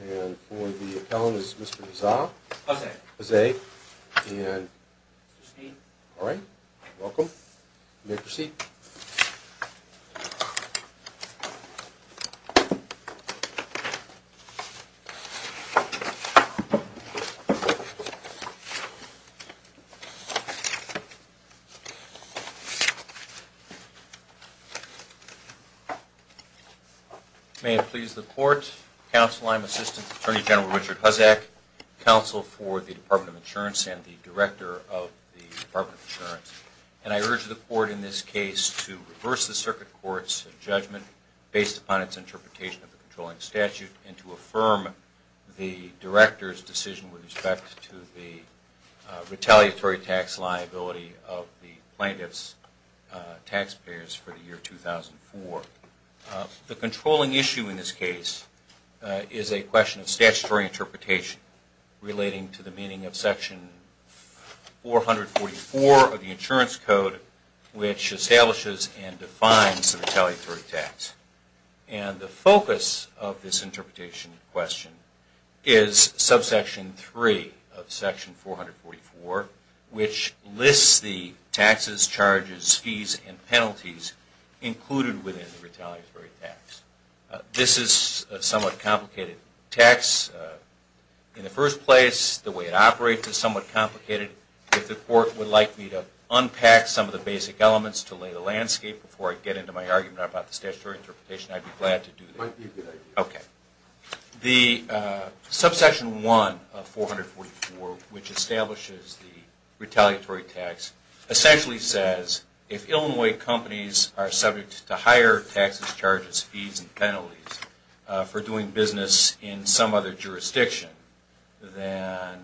And for the accountant is Mr. Nizar, Jose, and Steve, alright, welcome, you may proceed. May it please the Court, Counsel, I'm Assistant Attorney General Richard Huzzack, Counsel for the Department of Insurance and the Director of the Department of Insurance, and I urge the Court in this case to reverse the Circuit Court's judgment based upon its interpretation of the controlling statute and to affirm the Director's decision with respect to the retaliatory tax liability of the plaintiff's taxpayers for the year 2004. The controlling issue in this case is a question of statutory interpretation relating to the meaning of Section 444 of the Insurance Code, which establishes and defines the retaliatory tax. And the focus of this interpretation question is subsection 3 of Section 444, which lists the taxes, charges, fees, and penalties included within the retaliatory tax. This is a somewhat complicated tax in the first place. The way it operates is somewhat complicated. If the Court would like me to unpack some of the basic elements to lay the landscape before I get into my argument about the statutory interpretation, I'd be glad to do that. Okay. The subsection 1 of 444, which establishes the retaliatory tax, essentially says if Illinois companies are subject to higher taxes, charges, fees, and penalties for doing business in some other jurisdiction, then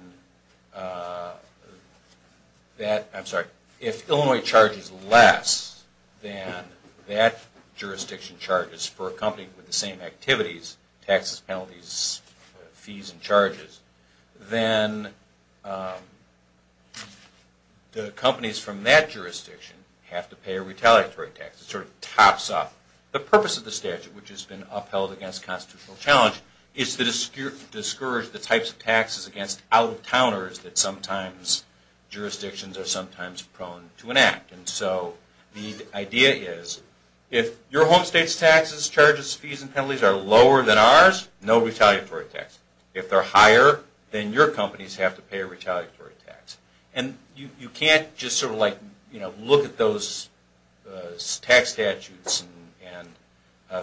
if Illinois charges less than that jurisdiction charges for a company with the same activities, taxes, penalties, fees, and charges, then the companies from that jurisdiction have to pay a retaliatory tax. The purpose of the statute, which has been upheld against constitutional challenge, is to discourage the types of taxes against out-of-towners that jurisdictions are sometimes prone to enact. So the idea is if your home state's taxes, charges, fees, and penalties are lower than ours, no retaliatory tax. If they're higher, then your companies have to pay a retaliatory tax. You can't just look at those tax statutes and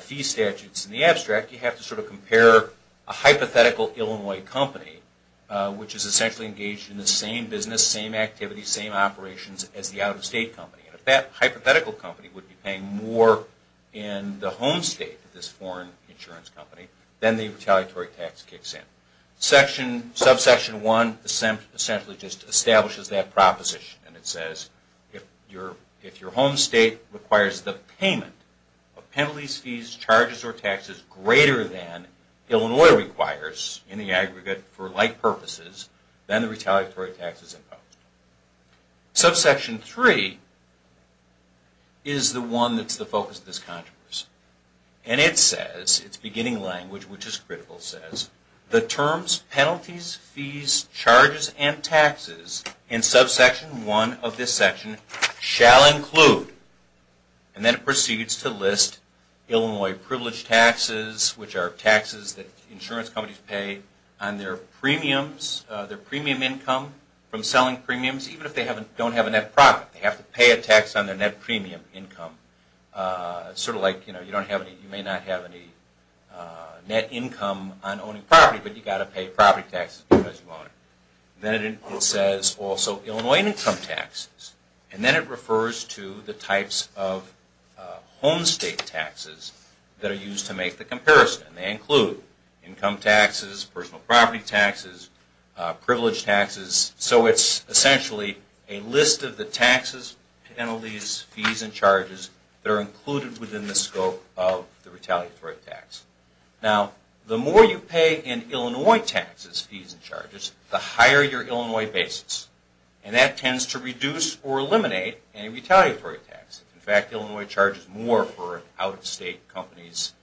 fee statutes in the abstract. You have to compare a hypothetical Illinois company, which is essentially engaged in the same business, same activities, same operations as the out-of-state company. If that hypothetical company would be paying more in the home state of this foreign insurance company, then the retaliatory tax kicks in. Subsection 1 essentially just establishes that proposition and it says if your home state requires the payment of penalties, fees, charges, or taxes greater than Illinois requires in the aggregate for like purposes, then the retaliatory tax is imposed. Subsection 3 is the one that's the focus of this controversy. And it says, it's beginning language, which is critical, says, the terms, penalties, fees, charges, and taxes in subsection 1 of this section shall include, and then it proceeds to list Illinois privileged taxes, which are taxes that insurance companies pay on their premiums, their premium income, from selling premiums, even if they don't have a net profit. They have to pay a tax on their net premium income. Sort of like you may not have any net income on owning property, but you've got to pay property taxes because you own it. Then it says also Illinois income taxes. And then it refers to the types of home state taxes that are used to make the comparison. They include income taxes, personal property taxes, privileged taxes. So it's essentially a list of the taxes, penalties, fees, and charges that are included within the scope of the retaliatory tax. Now, the more you pay in Illinois taxes, fees, and charges, the higher your Illinois basis. And that tends to reduce or eliminate any retaliatory taxes. In fact, Illinois charges more for out-of-state companies'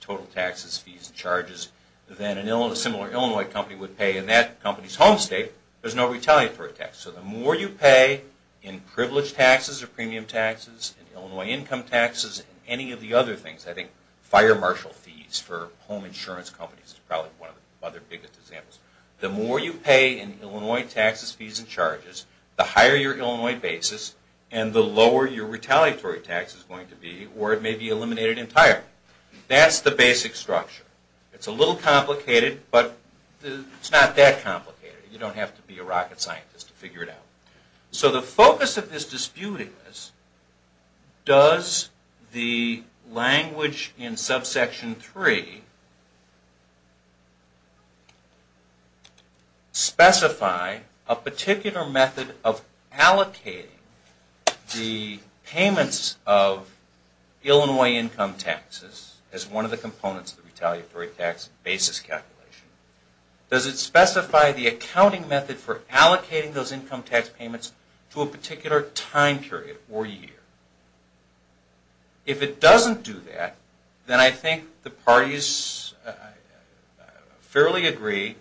total taxes, fees, and charges than a similar Illinois company would pay in that company's home state. There's no retaliatory tax. So the more you pay in privileged taxes or premium taxes, in Illinois income taxes, in any of the other things, I think fire marshal fees for home insurance companies is probably one of the other biggest examples. The more you pay in Illinois taxes, fees, and charges, the higher your Illinois basis and the lower your retaliatory tax is going to be or it may be eliminated entirely. That's the basic structure. It's a little complicated, but it's not that complicated. You don't have to be a rocket scientist to figure it out. So the focus of this dispute is, does the language in subsection 3 specify a particular method of allocating the payments of Illinois income taxes as one of the components of the retaliatory tax basis calculation? Does it specify the accounting method for allocating those income tax payments to a particular time period or year? If it doesn't do that, then I think the parties fairly agree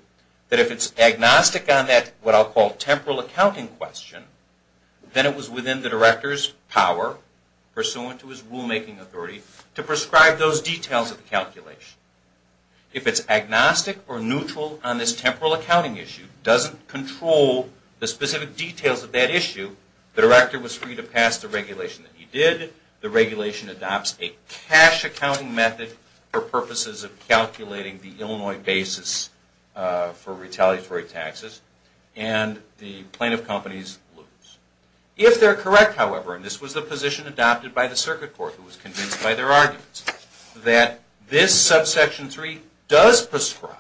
that if it's agnostic on that what I'll call temporal accounting question, then it was within the director's power, pursuant to his rulemaking authority, to prescribe those details of the calculation. If it's agnostic or neutral on this temporal accounting issue, doesn't control the specific details of that issue, the director was free to pass the regulation that he did, the regulation adopts a cash accounting method for purposes of calculating the Illinois basis for retaliatory taxes, and the plaintiff companies lose. If they're correct, however, and this was the position adopted by the circuit court, who was convinced by their arguments, that this subsection 3 does prescribe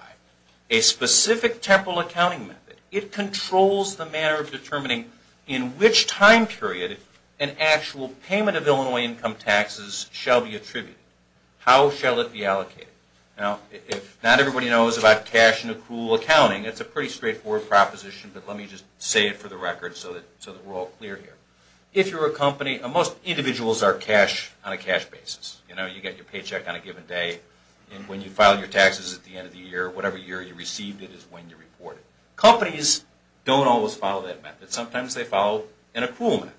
a specific temporal accounting method, it controls the manner of determining in which time period an actual payment of Illinois income taxes shall be attributed. How shall it be allocated? Now, if not everybody knows about cash and accrual accounting, it's a pretty straightforward proposition, but let me just say it for the record so that we're all clear here. If you're a company, most individuals are cash on a cash basis. You get your paycheck on a given day, and when you file your taxes at the end of the year, whatever year you received it is when you report it. Companies don't always follow that method. Sometimes they follow an accrual method.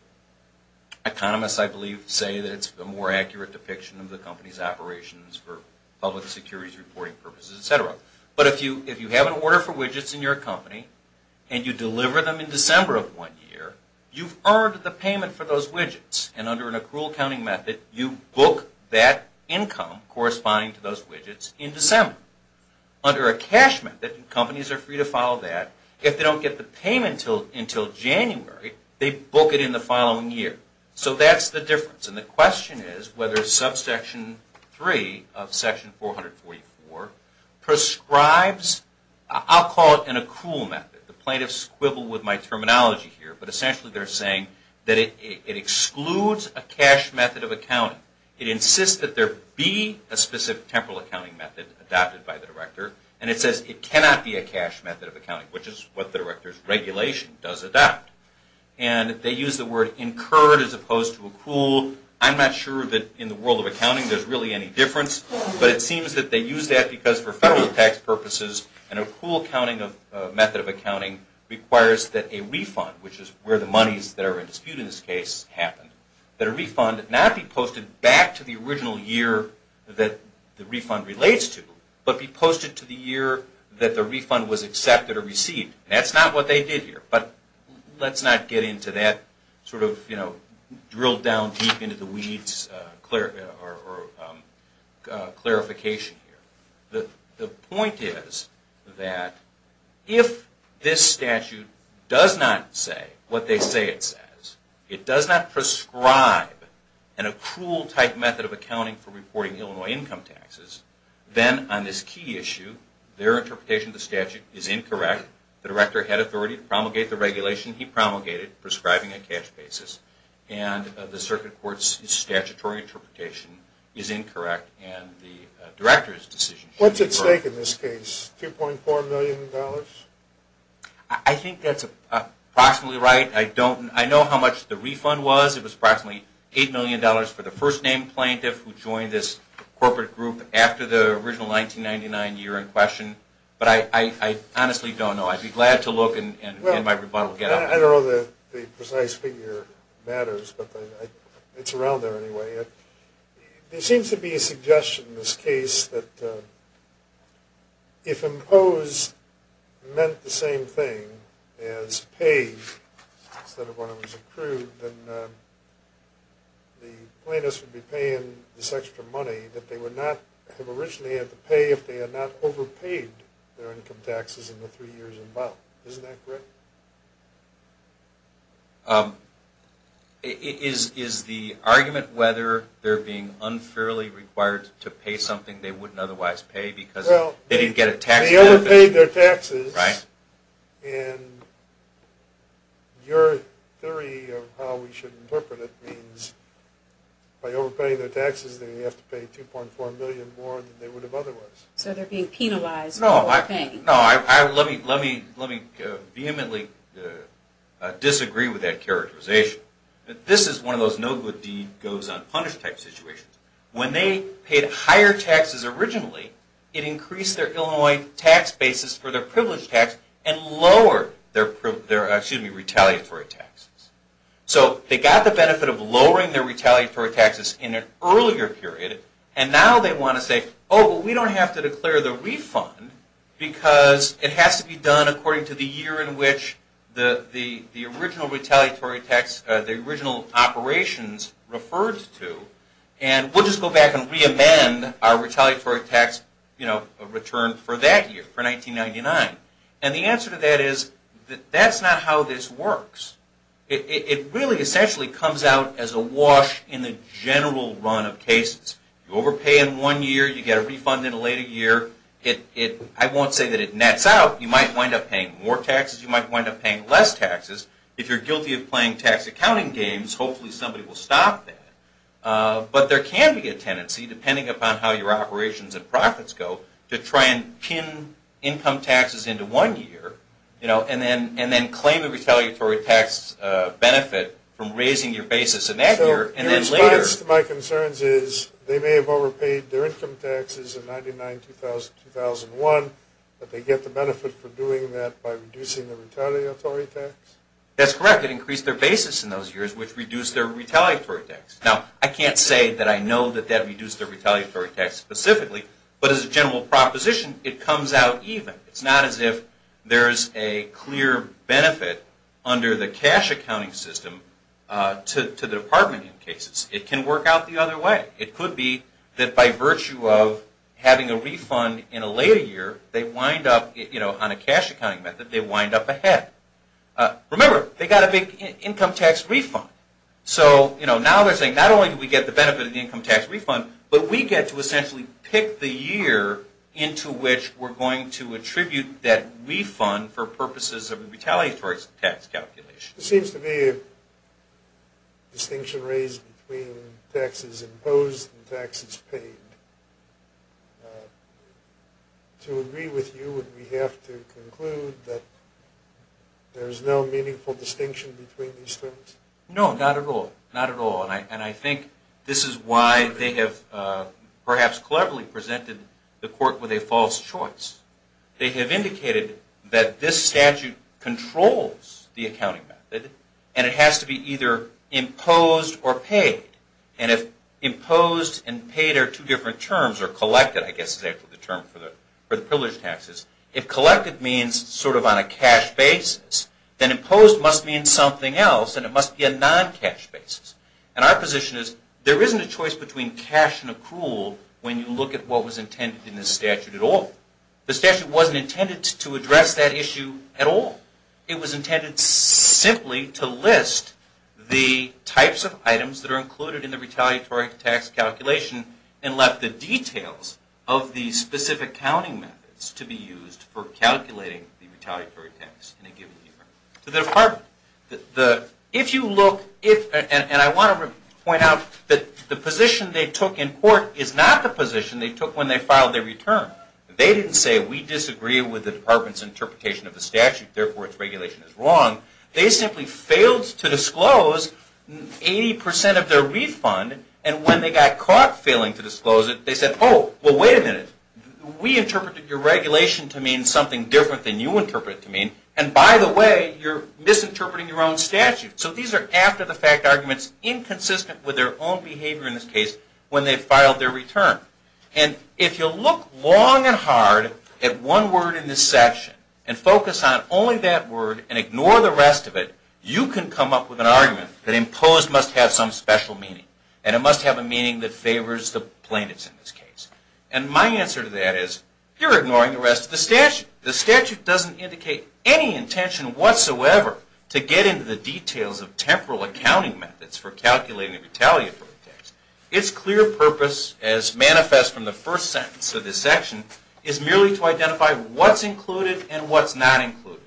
Economists, I believe, say that it's a more accurate depiction of the company's operations for public securities reporting purposes, etc. But if you have an order for widgets in your company, and you deliver them in December of one year, you've earned the payment for those widgets, and under an accrual accounting method, you book that income corresponding to those widgets in December. Under a cash method, companies are free to follow that. If they don't get the payment until January, they book it in the following year. So that's the difference, and the question is whether subsection 3 of section 444 prescribes, I'll call it an accrual method. The plaintiffs quibble with my terminology here, but essentially they're saying that it excludes a cash method of accounting. It insists that there be a specific temporal accounting method adopted by the director, and it says it cannot be a cash method of accounting, which is what the director's regulation does adopt. And they use the word incurred as opposed to accrual. I'm not sure that in the world of accounting there's really any difference, but it seems that they use that because for federal tax purposes, an accrual method of accounting requires that a refund, which is where the monies that are in dispute in this case, happen. That a refund not be posted back to the original year that the refund relates to, but be posted to the year that the refund was accepted or received. That's not what they did here, but let's not get into that sort of drilled down deep into the weeds clarification here. The point is that if this statute does not say what they say it says, it does not prescribe an accrual type method of accounting for reporting Illinois income taxes, then on this key issue, their interpretation of the statute is incorrect. The director had authority to promulgate the regulation he promulgated, prescribing a cash basis, and the circuit court's statutory interpretation is incorrect, and the director's decision is incorrect. What's at stake in this case? $2.4 million? I think that's approximately right. I know how much the refund was. It was approximately $8 million for the first name plaintiff who joined this corporate group after the original 1999 year in question, but I honestly don't know. I'd be glad to look and my rebuttal would get out. I don't know that the precise figure matters, but it's around there anyway. There seems to be a suggestion in this case that if impose meant the same thing as pay instead of when it was accrued, then the plaintiffs would be paying this extra money that they would not have originally had to pay if they had not overpaid their income taxes in the three years involved. Isn't that correct? Is the argument whether they're being unfairly required to pay something they wouldn't otherwise pay because they didn't get a tax benefit? They overpaid their taxes, and your theory of how we should interpret it means by overpaying their taxes, they have to pay $2.4 million more than they would have otherwise. So they're being penalized for paying. Let me vehemently disagree with that characterization. This is one of those no good deed goes unpunished type situations. When they paid higher taxes originally, it increased their Illinois tax basis for their privileged tax and lowered their retaliatory taxes. So they got the benefit of lowering their retaliatory taxes in an earlier period, and now they want to say, oh, but we don't have to declare the refund because it has to be done according to the year in which the original operations referred to, and we'll just go back and reamend our retaliatory tax return for that year, for 1999. And the answer to that is, that's not how this works. It really essentially comes out as a wash in the general run of cases. You overpay in one year, you get a refund in a later year. I won't say that it nets out. You might wind up paying more taxes. You might wind up paying less taxes. If you're guilty of playing tax accounting games, hopefully somebody will stop that. But there can be a tendency, depending upon how your operations and profits go, to try and pin income taxes into one year and then claim a retaliatory tax benefit from raising your basis in that year and then later. The answer to my concerns is, they may have overpaid their income taxes in 1999, 2000, 2001, but they get the benefit for doing that by reducing their retaliatory tax? That's correct. It increased their basis in those years, which reduced their retaliatory tax. Now, I can't say that I know that that reduced their retaliatory tax specifically, but as a general proposition, it comes out even. It's not as if there's a clear benefit under the cash accounting system to the department in cases. It can work out the other way. It could be that by virtue of having a refund in a later year, on a cash accounting method, they wind up ahead. Remember, they got a big income tax refund. So now they're saying, not only do we get the benefit of the income tax refund, but we get to essentially pick the year into which we're going to attribute that refund for purposes of retaliatory tax calculation. There seems to be a distinction raised between taxes imposed and taxes paid. To agree with you, would we have to conclude that there's no meaningful distinction between these terms? No, not at all. Not at all. And I think this is why they have perhaps cleverly presented the court with a false choice. They have indicated that this statute controls the accounting method, and it has to be either imposed or paid. And if imposed and paid are two different terms, or collected, I guess, is actually the term for the privilege taxes. If collected means sort of on a cash basis, then imposed must mean something else, and it must be a non-cash basis. And our position is, there isn't a choice between cash and accrual when you look at what was intended in this statute at all. The statute wasn't intended to address that issue at all. It was intended simply to list the types of items that are included in the retaliatory tax calculation and left the details of the specific accounting methods to be used. For calculating the retaliatory tax in a given year. To the department. And I want to point out that the position they took in court is not the position they took when they filed their return. They didn't say, we disagree with the department's interpretation of the statute, therefore its regulation is wrong. They simply failed to disclose 80% of their refund, and when they got caught failing to disclose it, they said, oh, well, wait a minute. We interpreted your regulation to mean something different than you interpreted it to mean. And by the way, you're misinterpreting your own statute. So these are after-the-fact arguments inconsistent with their own behavior in this case when they filed their return. And if you'll look long and hard at one word in this section and focus on only that word and ignore the rest of it, you can come up with an argument that imposed must have some special meaning. And it must have a meaning that favors the plaintiffs in this case. And my answer to that is, you're ignoring the rest of the statute. The statute doesn't indicate any intention whatsoever to get into the details of temporal accounting methods for calculating the retaliatory tax. Its clear purpose, as manifest from the first sentence of this section, is merely to identify what's included and what's not included.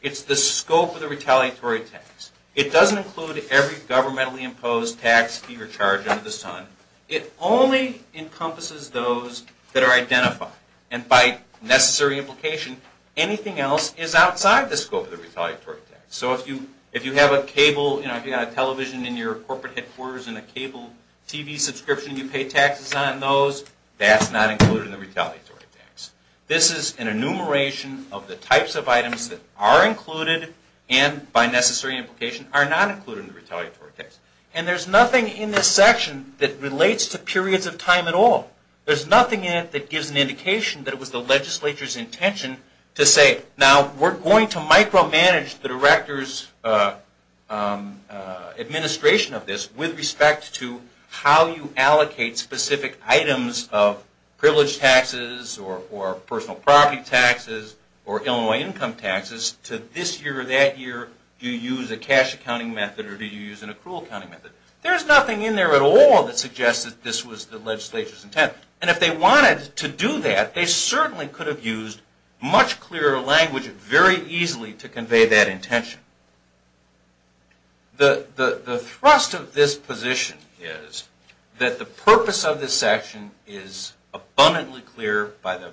It's the scope of the retaliatory tax. It doesn't include every governmentally imposed tax fee or charge under the sun. It only encompasses those that are identified. And by necessary implication, anything else is outside the scope of the retaliatory tax. So if you have a television in your corporate headquarters and a cable TV subscription and you pay taxes on those, that's not included in the retaliatory tax. This is an enumeration of the types of items that are included and, by necessary implication, are not included in the retaliatory tax. And there's nothing in this section that relates to periods of time at all. There's nothing in it that gives an indication that it was the legislature's intention to say, now, we're going to micromanage the director's administration of this with respect to how you allocate specific items of privileged taxes or personal property taxes or Illinois income taxes to this year or that year. Do you use a cash accounting method or do you use an accrual accounting method? There's nothing in there at all that suggests that this was the legislature's intent. And if they wanted to do that, they certainly could have used much clearer language very easily to convey that intention. The thrust of this position is that the purpose of this section is abundantly clear by the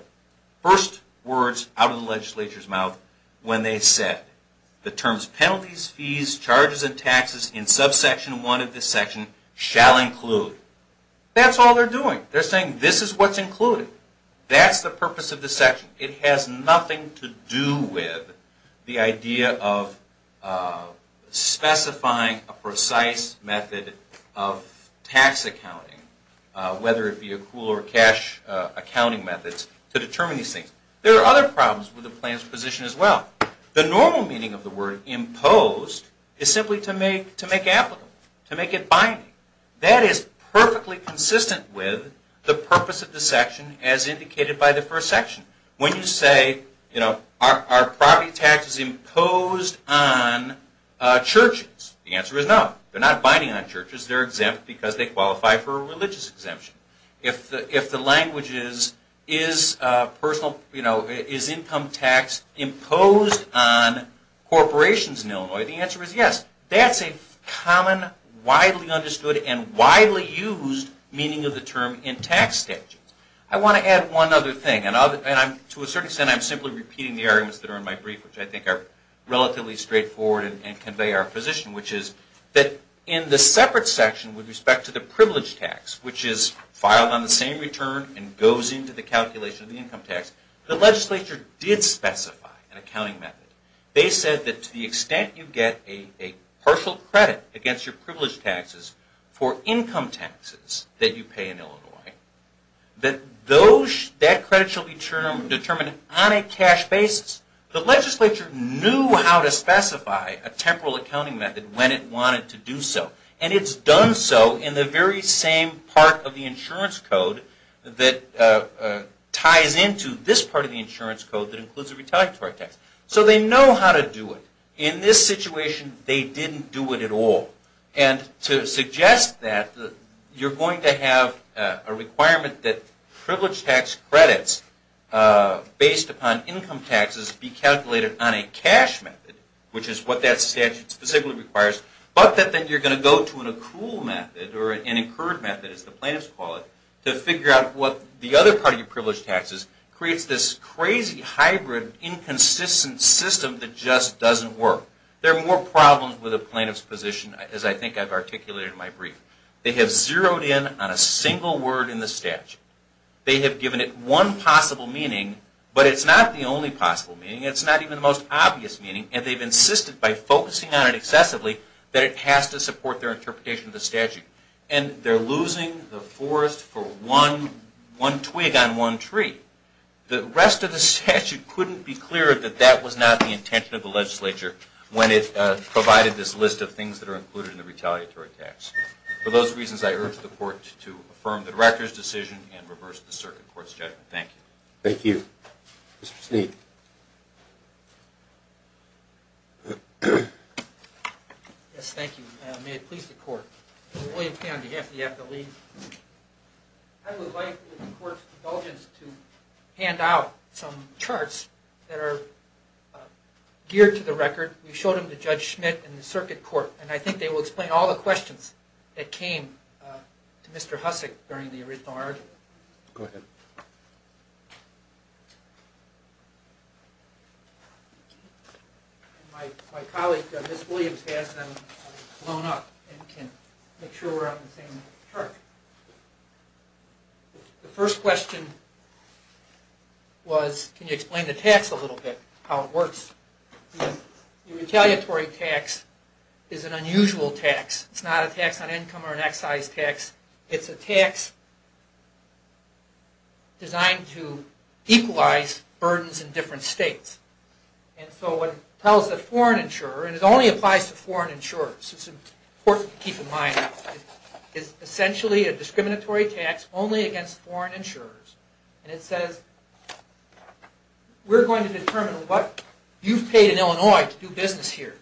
first words out of the legislature's mouth when they said, the terms, penalties, fees, charges, and taxes in subsection 1 of this section shall include. That's all they're doing. They're saying this is what's included. That's the purpose of this section. It has nothing to do with the idea of specifying a precise method of tax accounting, whether it be accrual or cash accounting methods to determine these things. There are other problems with the plan's position as well. The normal meaning of the word imposed is simply to make applicable, to make it binding. That is perfectly consistent with the purpose of the section as indicated by the first section. When you say, are property taxes imposed on churches? The answer is no. They're not binding on churches. They're exempt because they qualify for a religious exemption. If the language is income tax imposed on corporations in Illinois, the answer is yes. That's a common, widely understood, and widely used meaning of the term in tax statutes. I want to add one other thing. To a certain extent, I'm simply repeating the arguments that are in my brief, which I think are relatively straightforward and convey our position, which is that in the separate section with respect to the privilege tax, which is filed on the same return and goes into the calculation of the income tax, the legislature did specify an accounting method. They said that to the extent you get a partial credit against your privilege taxes for income taxes that you pay in Illinois, that credit shall be determined on a cash basis. The legislature knew how to specify a temporal accounting method when it wanted to do so, and it's done so in the very same part of the insurance code that ties into this part of the insurance code that includes the retaliatory tax. So they know how to do it. In this situation, they didn't do it at all. And to suggest that, you're going to have a requirement that privilege tax credits based upon income taxes be calculated on a cash method, which is what that statute specifically requires. But that then you're going to go to an accrual method or an incurred method, as the plaintiffs call it, to figure out what the other part of your privilege taxes creates this crazy hybrid inconsistent system that just doesn't work. There are more problems with a plaintiff's position, as I think I've articulated in my brief. They have zeroed in on a single word in the statute. They have given it one possible meaning, but it's not the only possible meaning. It's not even the most obvious meaning. And they've insisted by focusing on it excessively that it has to support their interpretation of the statute. And they're losing the forest for one twig on one tree. The rest of the statute couldn't be clearer that that was not the intention of the legislature when it provided this list of things that are included in the retaliatory tax. For those reasons, I urge the court to affirm the director's decision and reverse the circuit court's judgment. Thank you. Thank you. Mr. Sneed. Yes, thank you. May it please the court. I would like, with the court's indulgence, to hand out some charts that are geared to the record. We showed them to Judge Schmidt and the circuit court, and I think they will explain all the questions that came to Mr. Hussock during the original argument. Go ahead. My colleague, Ms. Williams, has them blown up and can make sure we're on the same chart. The first question was, can you explain the tax a little bit, how it works? The retaliatory tax is an unusual tax. It's not a tax on income or an excise tax. It's a tax designed to equalize burdens in different states. It only applies to foreign insurers, so it's important to keep in mind. It's essentially a discriminatory tax only against foreign insurers. It says, we're going to determine what you've paid in Illinois to do business here.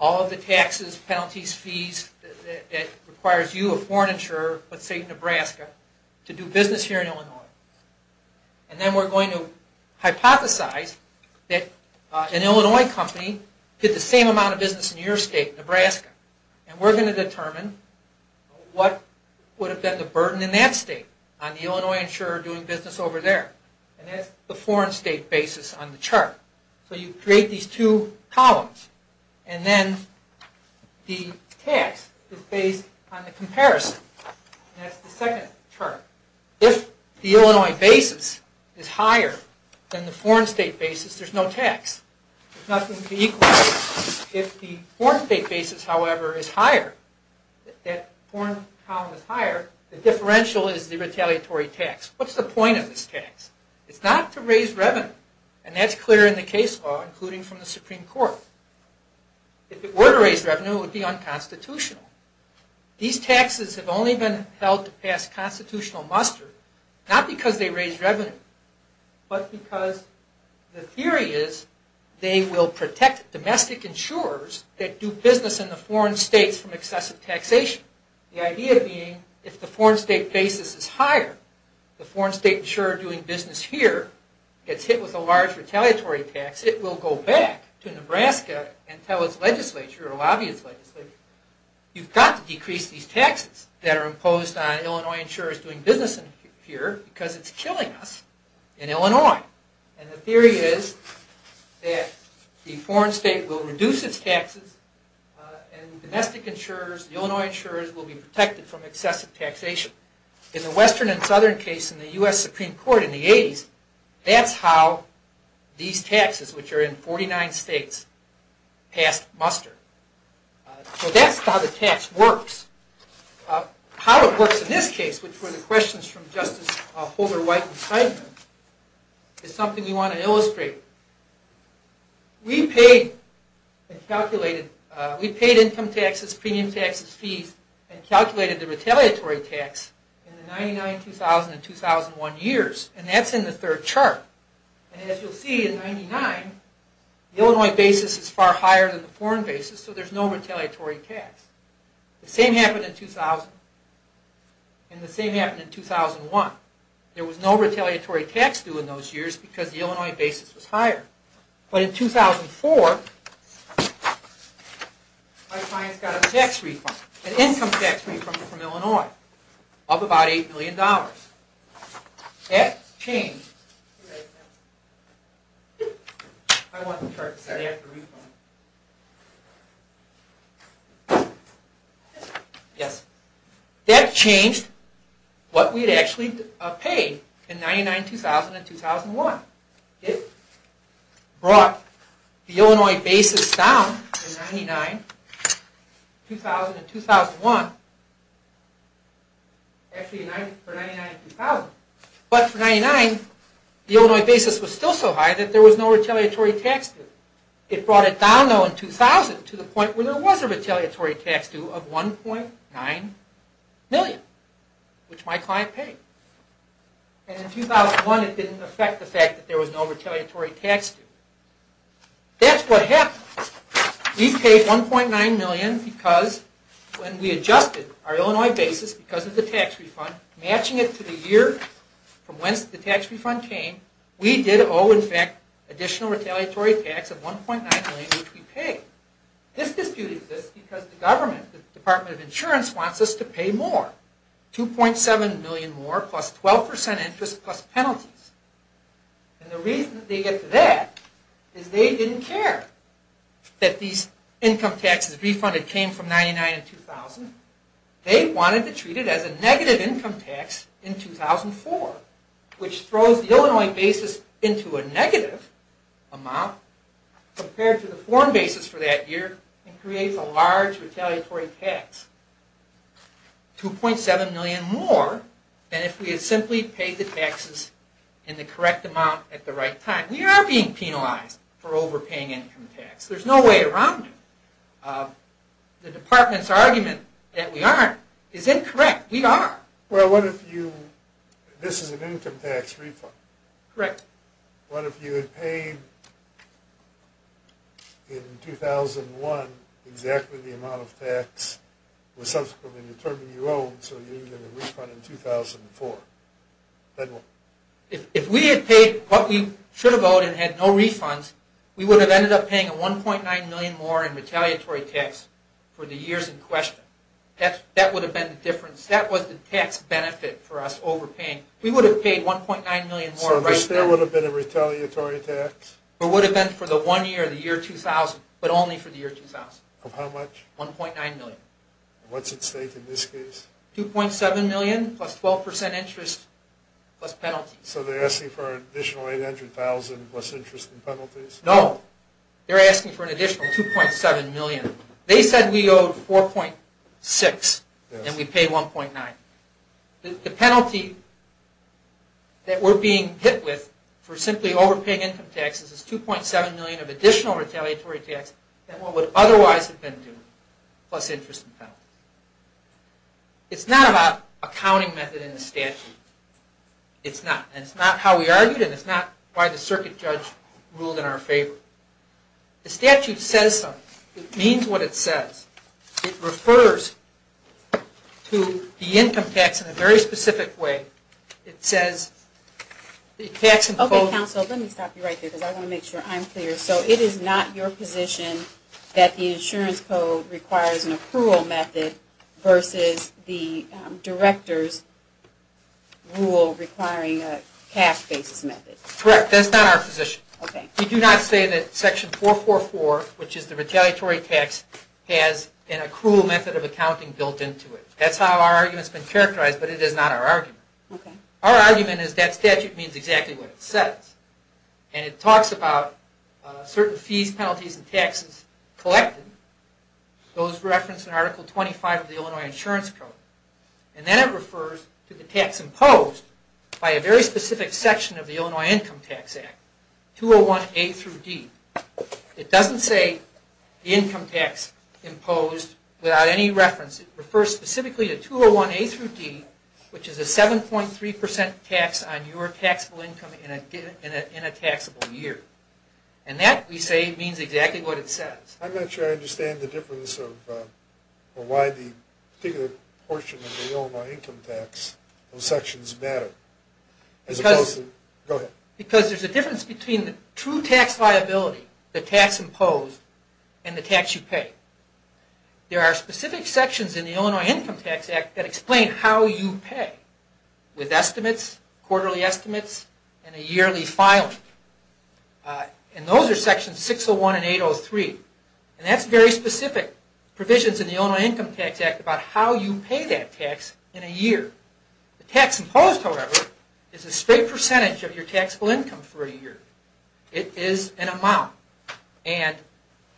All of the taxes, penalties, fees that requires you, a foreign insurer, let's say in Nebraska, to do business here in Illinois. Then we're going to hypothesize that an Illinois company did the same amount of business in your state, Nebraska, and we're going to determine what would have been the burden in that state on the Illinois insurer doing business over there. That's the foreign state basis on the chart. You create these two columns, and then the tax is based on the comparison. That's the second chart. If the Illinois basis is higher than the foreign state basis, there's no tax. There's nothing to equalize. If the foreign state basis, however, is higher, the differential is the retaliatory tax. What's the point of this tax? It's not to raise revenue, and that's clear in the case law, including from the Supreme Court. If it were to raise revenue, it would be unconstitutional. These taxes have only been held to pass constitutional muster, not because they raise revenue, but because the theory is they will protect domestic insurers that do business in the foreign states from excessive taxation. The idea being, if the foreign state basis is higher, the foreign state insurer doing business here gets hit with a large retaliatory tax, it will go back to Nebraska and tell its legislature or lobby its legislature, you've got to decrease these taxes that are imposed on Illinois insurers doing business here because it's killing us in Illinois. The theory is that the foreign state will reduce its taxes, and domestic insurers, Illinois insurers, will be protected from excessive taxation. In the western and southern case in the U.S. Supreme Court in the 80s, that's how these taxes, which are in 49 states, passed muster. So that's how the tax works. How it works in this case, which were the questions from Justice Holder White and Seidman, is something we want to illustrate. We paid income taxes, premium taxes, fees, and calculated the retaliatory tax in the 99, 2000, and 2001 years, and that's in the third chart. And as you'll see in 99, the Illinois basis is far higher than the foreign basis, so there's no retaliatory tax. The same happened in 2000, and the same happened in 2001. There was no retaliatory tax due in those years because the Illinois basis was higher. But in 2004, my clients got a tax refund, an income tax refund from Illinois of about $8 million. That changed what we had actually paid in 99, 2000, and 2001. It brought the Illinois basis down in 99, 2000, and 2001. Actually, for 99, 2000. But for 99, the Illinois basis was still so high that there was no retaliatory tax due. It brought it down, though, in 2000 to the point where there was a retaliatory tax due of $1.9 million, which my client paid. And in 2001, it didn't affect the fact that there was no retaliatory tax due. That's what happened. We paid $1.9 million because when we adjusted our Illinois basis because of the tax refund, matching it to the year from whence the tax refund came, we did owe, in fact, additional retaliatory tax of $1.9 million, which we paid. This dispute exists because the government, the Department of Insurance, wants us to pay more. $2.7 million more plus 12% interest plus penalties. And the reason they get to that is they didn't care that these income taxes refunded came from 99, 2000. They wanted to treat it as a negative income tax in 2004, which throws the Illinois basis into a negative amount compared to the foreign basis for that year and creates a large retaliatory tax. $2.7 million more than if we had simply paid the taxes in the correct amount at the right time. We are being penalized for overpaying income tax. There's no way around it. The department's argument that we aren't is incorrect. We are. Well, what if you, this is an income tax refund. Correct. What if you had paid in 2001 exactly the amount of tax was subsequently determined you owed, so you didn't get a refund in 2004? If we had paid what we should have owed and had no refunds, we would have ended up paying a $1.9 million more in retaliatory tax for the years in question. That would have been the difference. That was the tax benefit for us overpaying. We would have paid $1.9 million more right then. So there would have been a retaliatory tax? It would have been for the one year, the year 2000, but only for the year 2000. Of how much? $1.9 million. What's at stake in this case? $2.7 million plus 12% interest plus penalties. So they're asking for an additional $800,000 plus interest and penalties? No. They're asking for an additional $2.7 million. They said we owed $4.6 and we paid $1.9. The penalty that we're being hit with for simply overpaying income taxes is $2.7 million of additional retaliatory tax than what would otherwise have been due, plus interest and penalties. It's not about accounting method in the statute. It's not. And it's not how we argued and it's not why the circuit judge ruled in our favor. The statute says something. It means what it says. It refers to the income tax in a very specific way. Okay, counsel, let me stop you right there because I want to make sure I'm clear. So it is not your position that the insurance code requires an accrual method versus the director's rule requiring a cash basis method? Correct. That's not our position. Okay. We do not say that section 444, which is the retaliatory tax, has an accrual method of accounting built into it. That's how our argument has been characterized, but it is not our argument. Okay. It doesn't say income tax imposed without any reference. It refers specifically to 201A-D, which is a 7.3% tax on your taxable income in a taxable year. And that, we say, means exactly what it says. I'm not sure I understand the difference of why the particular portion of the Illinois income tax, those sections matter, as opposed to... Because... Go ahead. ...the tax liability, the tax imposed, and the tax you pay. There are specific sections in the Illinois Income Tax Act that explain how you pay with estimates, quarterly estimates, and a yearly filing. And those are sections 601 and 803. And that's very specific provisions in the Illinois Income Tax Act about how you pay that tax in a year. The tax imposed, however, is a straight percentage of your taxable income for a year. It is an amount. And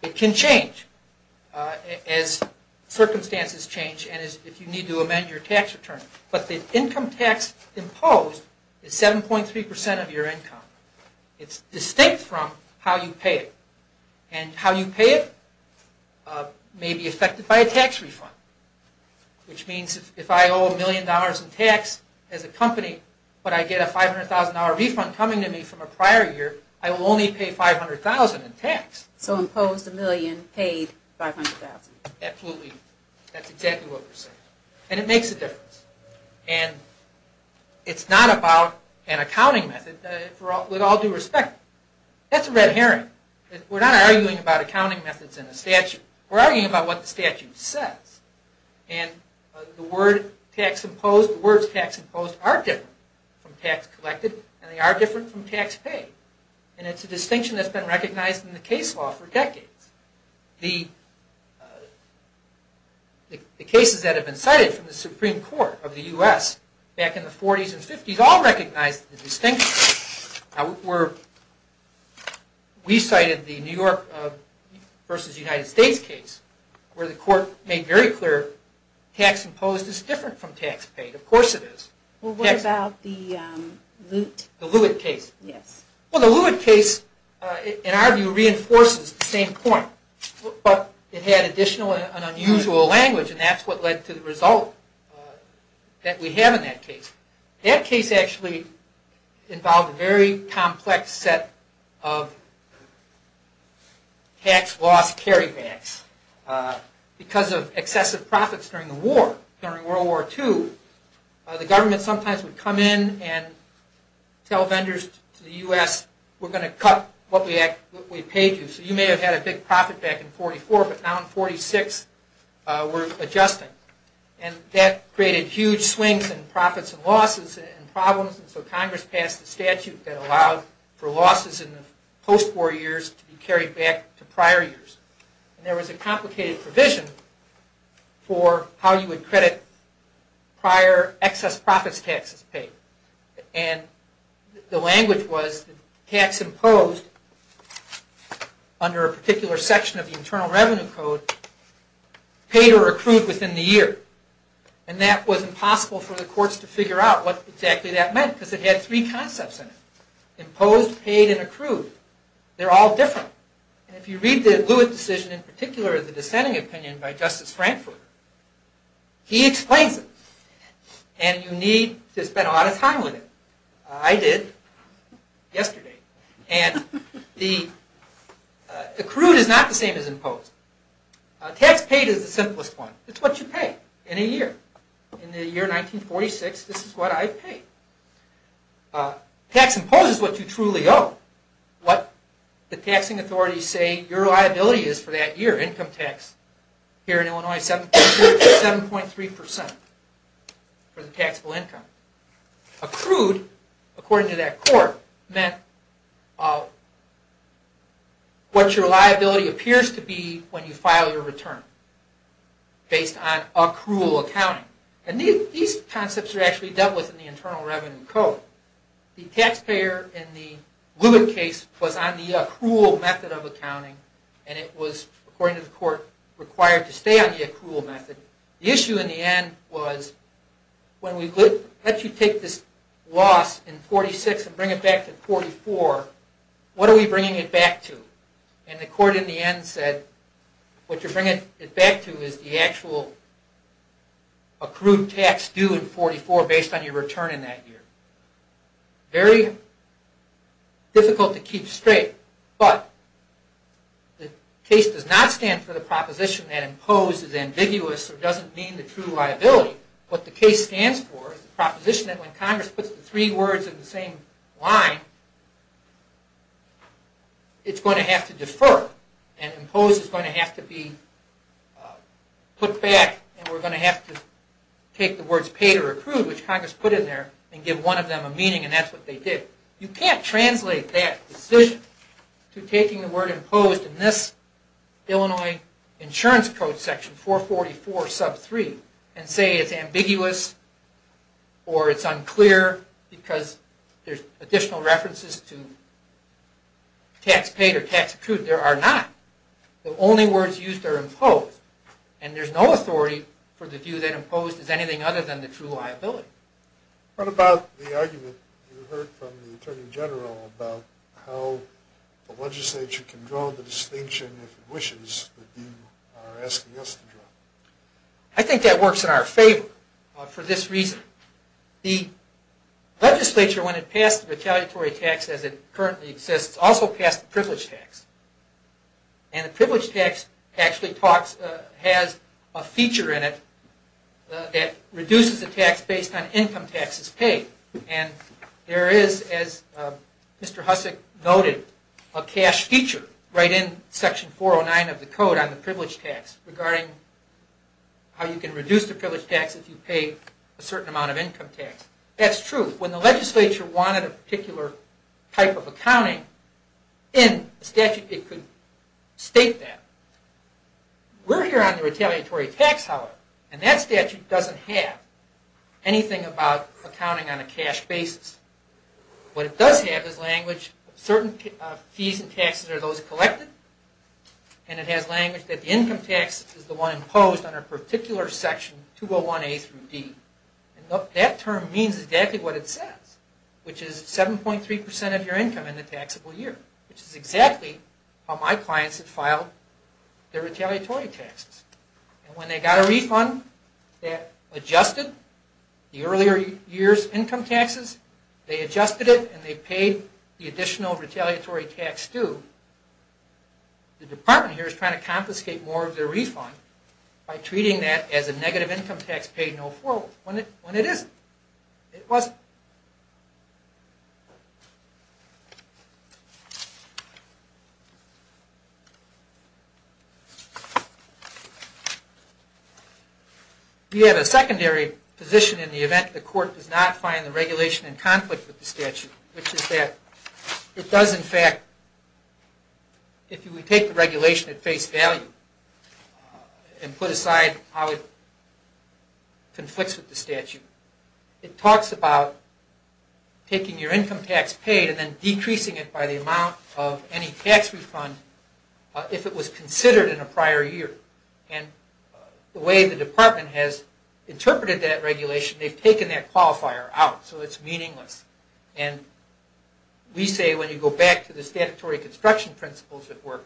it can change as circumstances change and if you need to amend your tax return. But the income tax imposed is 7.3% of your income. It's distinct from how you pay it. And how you pay it may be affected by a tax refund. Which means if I owe $1,000,000 in tax as a company, but I get a $500,000 refund coming to me from a prior year, I will only pay $500,000 in tax. So imposed $1,000,000, paid $500,000. Absolutely. That's exactly what we're saying. And it makes a difference. And it's not about an accounting method. With all due respect, that's a red herring. We're not arguing about accounting methods in a statute. We're arguing about what the statute says. And the words tax imposed, the words tax imposed are different from tax collected. And they are different from tax paid. And it's a distinction that's been recognized in the case law for decades. The cases that have been cited from the Supreme Court of the U.S. back in the 40s and 50s all recognized the distinction. We cited the New York v. United States case where the court made very clear tax imposed is different from tax paid. Of course it is. Well, what about the Lewitt case? The Lewitt case, in our view, reinforces the same point. But it had additional and unusual language, and that's what led to the result that we have in that case. That case actually involved a very complex set of tax loss carrybacks. Because of excessive profits during the war, during World War II, the government sometimes would come in and tell vendors to the U.S., we're going to cut what we paid you. So you may have had a big profit back in 1944, but now in 1946 we're adjusting. And that created huge swings in profits and losses and problems. And so Congress passed a statute that allowed for losses in the post-war years to be carried back to prior years. And there was a complicated provision for how you would credit prior excess profits taxes paid. And the language was that tax imposed under a particular section of the Internal Revenue Code paid or accrued within the year. And that was impossible for the courts to figure out what exactly that meant, because it had three concepts in it. They're all different. And if you read the Lewis decision, in particular the dissenting opinion by Justice Frankfurter, he explains it. And you need to spend a lot of time with it. I did, yesterday. And the accrued is not the same as imposed. Tax paid is the simplest one. It's what you pay in a year. In the year 1946, this is what I paid. Tax imposed is what you truly owe. What the taxing authorities say your liability is for that year. Income tax here in Illinois is 7.3% for the taxable income. Accrued, according to that court, meant what your liability appears to be when you file your return, based on accrual accounting. And these concepts are actually dealt with in the Internal Revenue Code. The taxpayer in the Lewis case was on the accrual method of accounting, and it was, according to the court, required to stay on the accrual method. The issue in the end was, when we let you take this loss in 1946 and bring it back to 1944, what are we bringing it back to? And the court in the end said, what you're bringing it back to is the actual accrued tax due in 1944, based on your return in that year. Very difficult to keep straight, but the case does not stand for the proposition that imposed is ambiguous or doesn't mean the true liability. What the case stands for is the proposition that when Congress puts the three words in the same line, it's going to have to defer, and imposed is going to have to be put back, and we're going to have to take the words paid or accrued, which Congress put in there, and give one of them a meaning, and that's what they did. You can't translate that decision to taking the word imposed in this Illinois Insurance Code section, 444 sub 3, and say it's ambiguous or it's unclear because there's additional references to tax paid or tax accrued. There are not. The only words used are imposed, and there's no authority for the view that imposed is anything other than the true liability. What about the argument you heard from the Attorney General about how the legislature can draw the distinction if it wishes that you are asking us to draw? I think that works in our favor for this reason. The legislature, when it passed the retaliatory tax as it currently exists, also passed the privilege tax, and the privilege tax actually has a feature in it that reduces the tax based on income taxes paid, and there is, as Mr. Hussack noted, a cash feature right in section 409 of the code on the privilege tax regarding how you can reduce the privilege tax if you pay a certain amount of income tax. That's true. When the legislature wanted a particular type of accounting in the statute, it could state that. We're here on the retaliatory tax, however, and that statute doesn't have anything about accounting on a cash basis. What it does have is language, certain fees and taxes are those collected, and it has language that the income tax is the one imposed on a particular section, 201A through D. That term means exactly what it says, which is 7.3% of your income in the taxable year, which is exactly how my clients have filed their retaliatory taxes. When they got a refund that adjusted the earlier year's income taxes, they adjusted it and they paid the additional retaliatory tax due, the department here is trying to confiscate more of their refund by treating that as a negative income tax paid no forward, when it isn't. It wasn't. We have a secondary position in the event the court does not find the regulation in conflict with the statute, which is that it does in fact, if you would take the regulation at face value and put aside how it conflicts with the statute, it talks about taking your income tax paid and decreasing it by the amount of any tax refund if it was considered in a prior year. The way the department has interpreted that regulation, they've taken that qualifier out, so it's meaningless. We say when you go back to the statutory construction principles at work,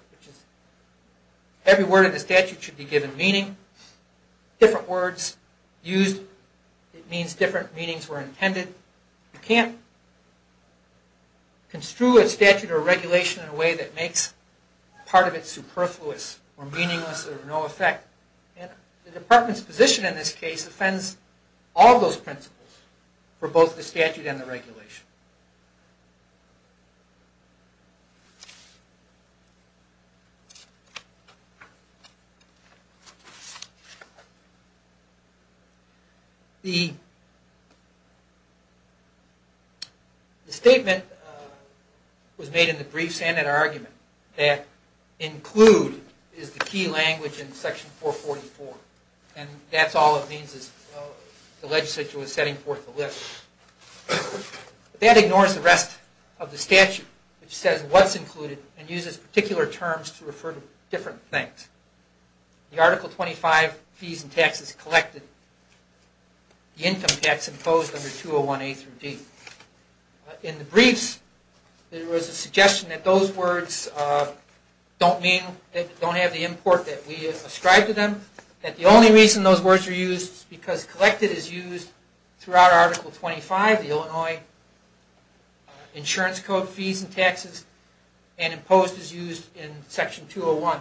every word in the statute should be given meaning, different words used means different meanings were intended. You can't construe a statute or regulation in a way that makes part of it superfluous or meaningless or no effect. The department's position in this case offends all those principles for both the statute and the regulation. The statement was made in the brief standard argument that include is the key language in section 444, and that's all it means is the legislature was setting forth a list. That ignores the rest of the statute, which says what's included and uses particular terms to refer to different things. The article 25, fees and taxes collected, the income tax imposed under 201A through D. In the briefs, there was a suggestion that those words don't have the import that we ascribe to them, that the only reason those words are used is because collected is used throughout article 25 of the Illinois Insurance Code, fees and taxes, and imposed is used in section 201.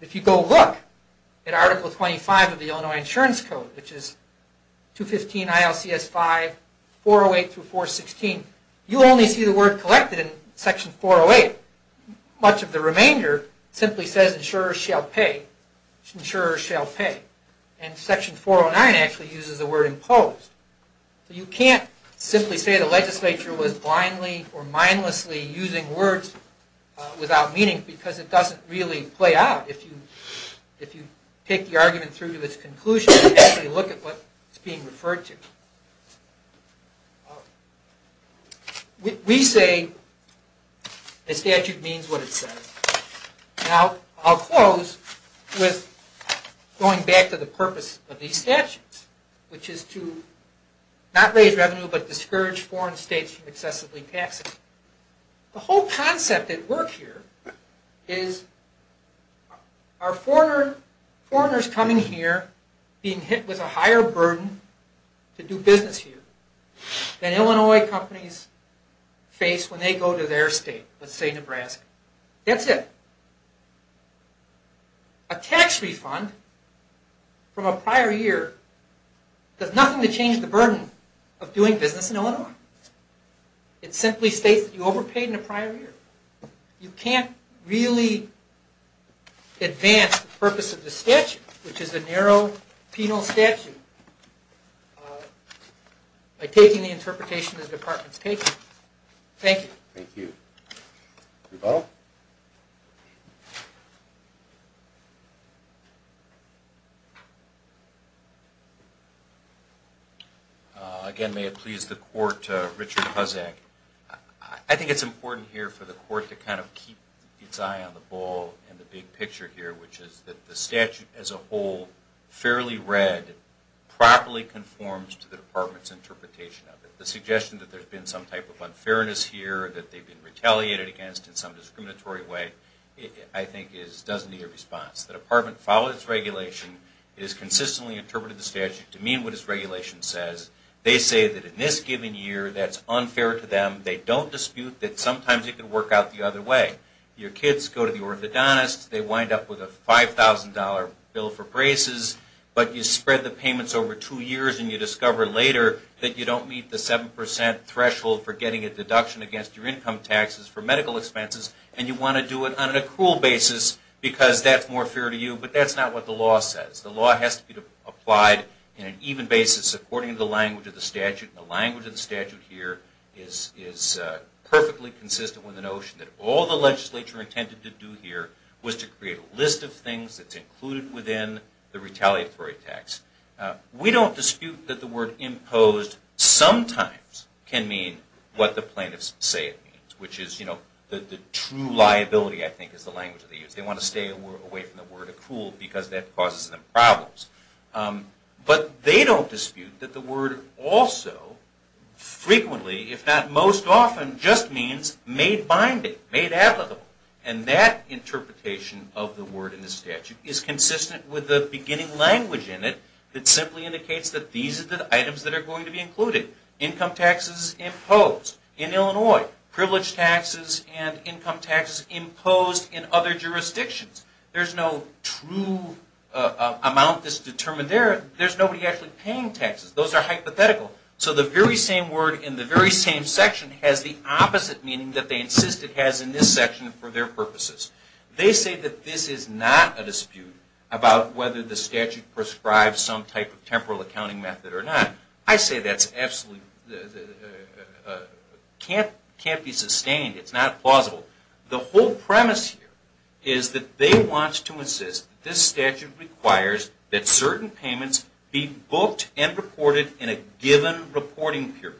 If you go look at article 25 of the Illinois Insurance Code, which is 215 ILCS 5, 408 through 416, you only see the word collected in section 408. Much of the remainder simply says insurers shall pay, and section 409 actually uses the word imposed. You can't simply say the legislature was blindly or mindlessly using words without meaning, because it doesn't really play out if you take the argument through to its conclusion and actually look at what it's being referred to. We say a statute means what it says. Now, I'll close with going back to the purpose of these statutes, which is to not raise revenue but discourage foreign states from excessively taxing. The whole concept at work here is, are foreigners coming here being hit with a higher burden to do business here than Illinois companies face when they go to their state, let's say Nebraska. That's it. A tax refund from a prior year does nothing to change the burden of doing business in Illinois. It simply states that you overpaid in a prior year. You can't really advance the purpose of the statute, which is a narrow penal statute, by taking the interpretation that the Department is taking. Thank you. Thank you. Rebuttal? Again, may it please the Court, Richard Puzak. I think it's important here for the Court to kind of keep its eye on the ball and the big picture here, which is that the statute as a whole, fairly read, properly conforms to the Department's interpretation of it. The suggestion that there's been some type of unfairness here, that they've been retaliated against in some discriminatory way, I think doesn't need a response. The Department followed its regulation. It has consistently interpreted the statute to mean what its regulation says. They say that in this given year that's unfair to them. They don't dispute that sometimes it can work out the other way. Your kids go to the orthodontist. They wind up with a $5,000 bill for braces, but you spread the payments over two years and you discover later that you don't meet the 7% threshold for getting a deduction against your income taxes for medical expenses, and you want to do it on an accrual basis because that's more fair to you. But that's not what the law says. The law has to be applied in an even basis according to the language of the statute. The language of the statute here is perfectly consistent with the notion that all the legislature intended to do here was to create a list of things that's included within the retaliatory tax. We don't dispute that the word imposed sometimes can mean what the plaintiffs say it means, which is the true liability, I think, is the language that they use. They want to stay away from the word accrual because that causes them problems. But they don't dispute that the word also frequently, if not most often, just means made binding, made applicable. And that interpretation of the word in the statute is consistent with the beginning language in it that simply indicates that these are the items that are going to be included. Income taxes imposed in Illinois, privileged taxes and income taxes imposed in other jurisdictions. There's no true amount that's determined there. There's nobody actually paying taxes. Those are hypothetical. So the very same word in the very same section has the opposite meaning that they insist it has in this section for their purposes. They say that this is not a dispute about whether the statute prescribes some type of temporal accounting method or not. I say that can't be sustained. It's not plausible. The whole premise here is that they want to insist that this statute requires that certain payments be booked and reported in a given reporting period.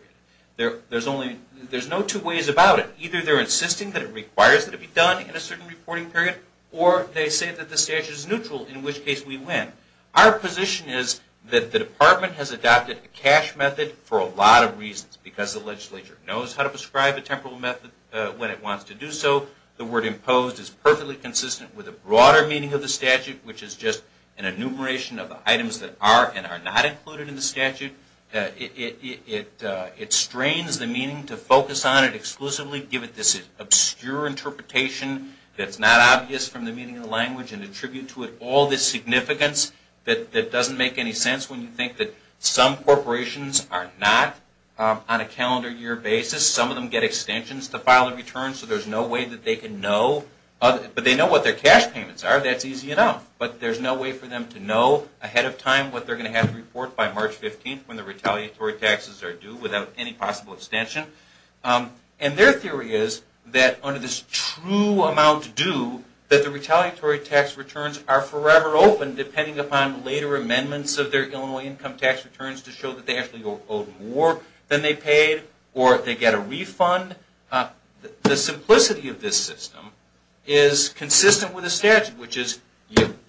There's no two ways about it. Either they're insisting that it requires that it be done in a certain reporting period, or they say that the statute is neutral, in which case we win. Our position is that the department has adopted a cash method for a lot of reasons. Because the legislature knows how to prescribe a temporal method when it wants to do so, the word imposed is perfectly consistent with the broader meaning of the statute, which is just an enumeration of the items that are and are not included in the statute. It strains the meaning to focus on it exclusively, give it this obscure interpretation that's not obvious from the meaning of the language, and attribute to it all this significance that doesn't make any sense when you think that some corporations are not on a calendar year basis. Some of them get extensions to file their returns, so there's no way that they can know. But they know what their cash payments are, that's easy enough. But there's no way for them to know ahead of time what they're going to have to report by March 15th when the retaliatory taxes are due, without any possible extension. And their theory is that under this true amount due, that the retaliatory tax returns are forever open, depending upon later amendments of their Illinois income tax returns to show that they actually owe more than they paid, or they get a refund. The simplicity of this system is consistent with the statute, which is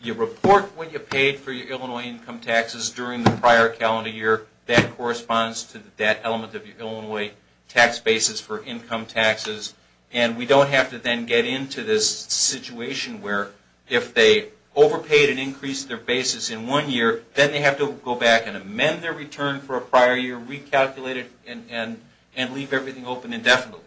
you report what you paid for your Illinois income taxes during the prior calendar year. That corresponds to that element of your Illinois tax basis for income taxes. And we don't have to then get into this situation where if they overpaid and increased their basis in one year, then they have to go back and amend their return for a prior year, recalculate it, and leave everything open indefinitely.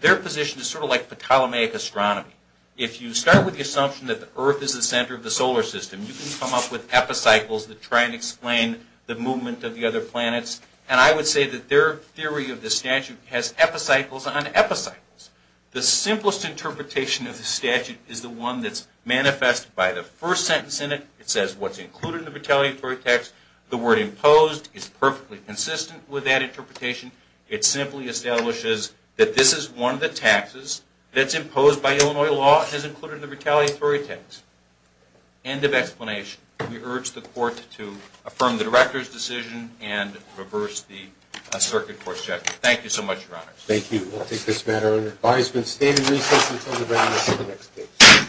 Their position is sort of like the Ptolemaic astronomy. If you start with the assumption that the Earth is the center of the solar system, you can come up with epicycles that try and explain the movement of the other planets. And I would say that their theory of the statute has epicycles on epicycles. The simplest interpretation of the statute is the one that's manifested by the first sentence in it. It says what's included in the retaliatory tax. The word imposed is perfectly consistent with that interpretation. It simply establishes that this is one of the taxes that's imposed by Illinois law. It has included the retaliatory tax. End of explanation. We urge the court to affirm the director's decision and reverse the circuit court's judgment. Thank you so much, Your Honors. Thank you. We'll take this matter under advisement. Stated recess until the very next case.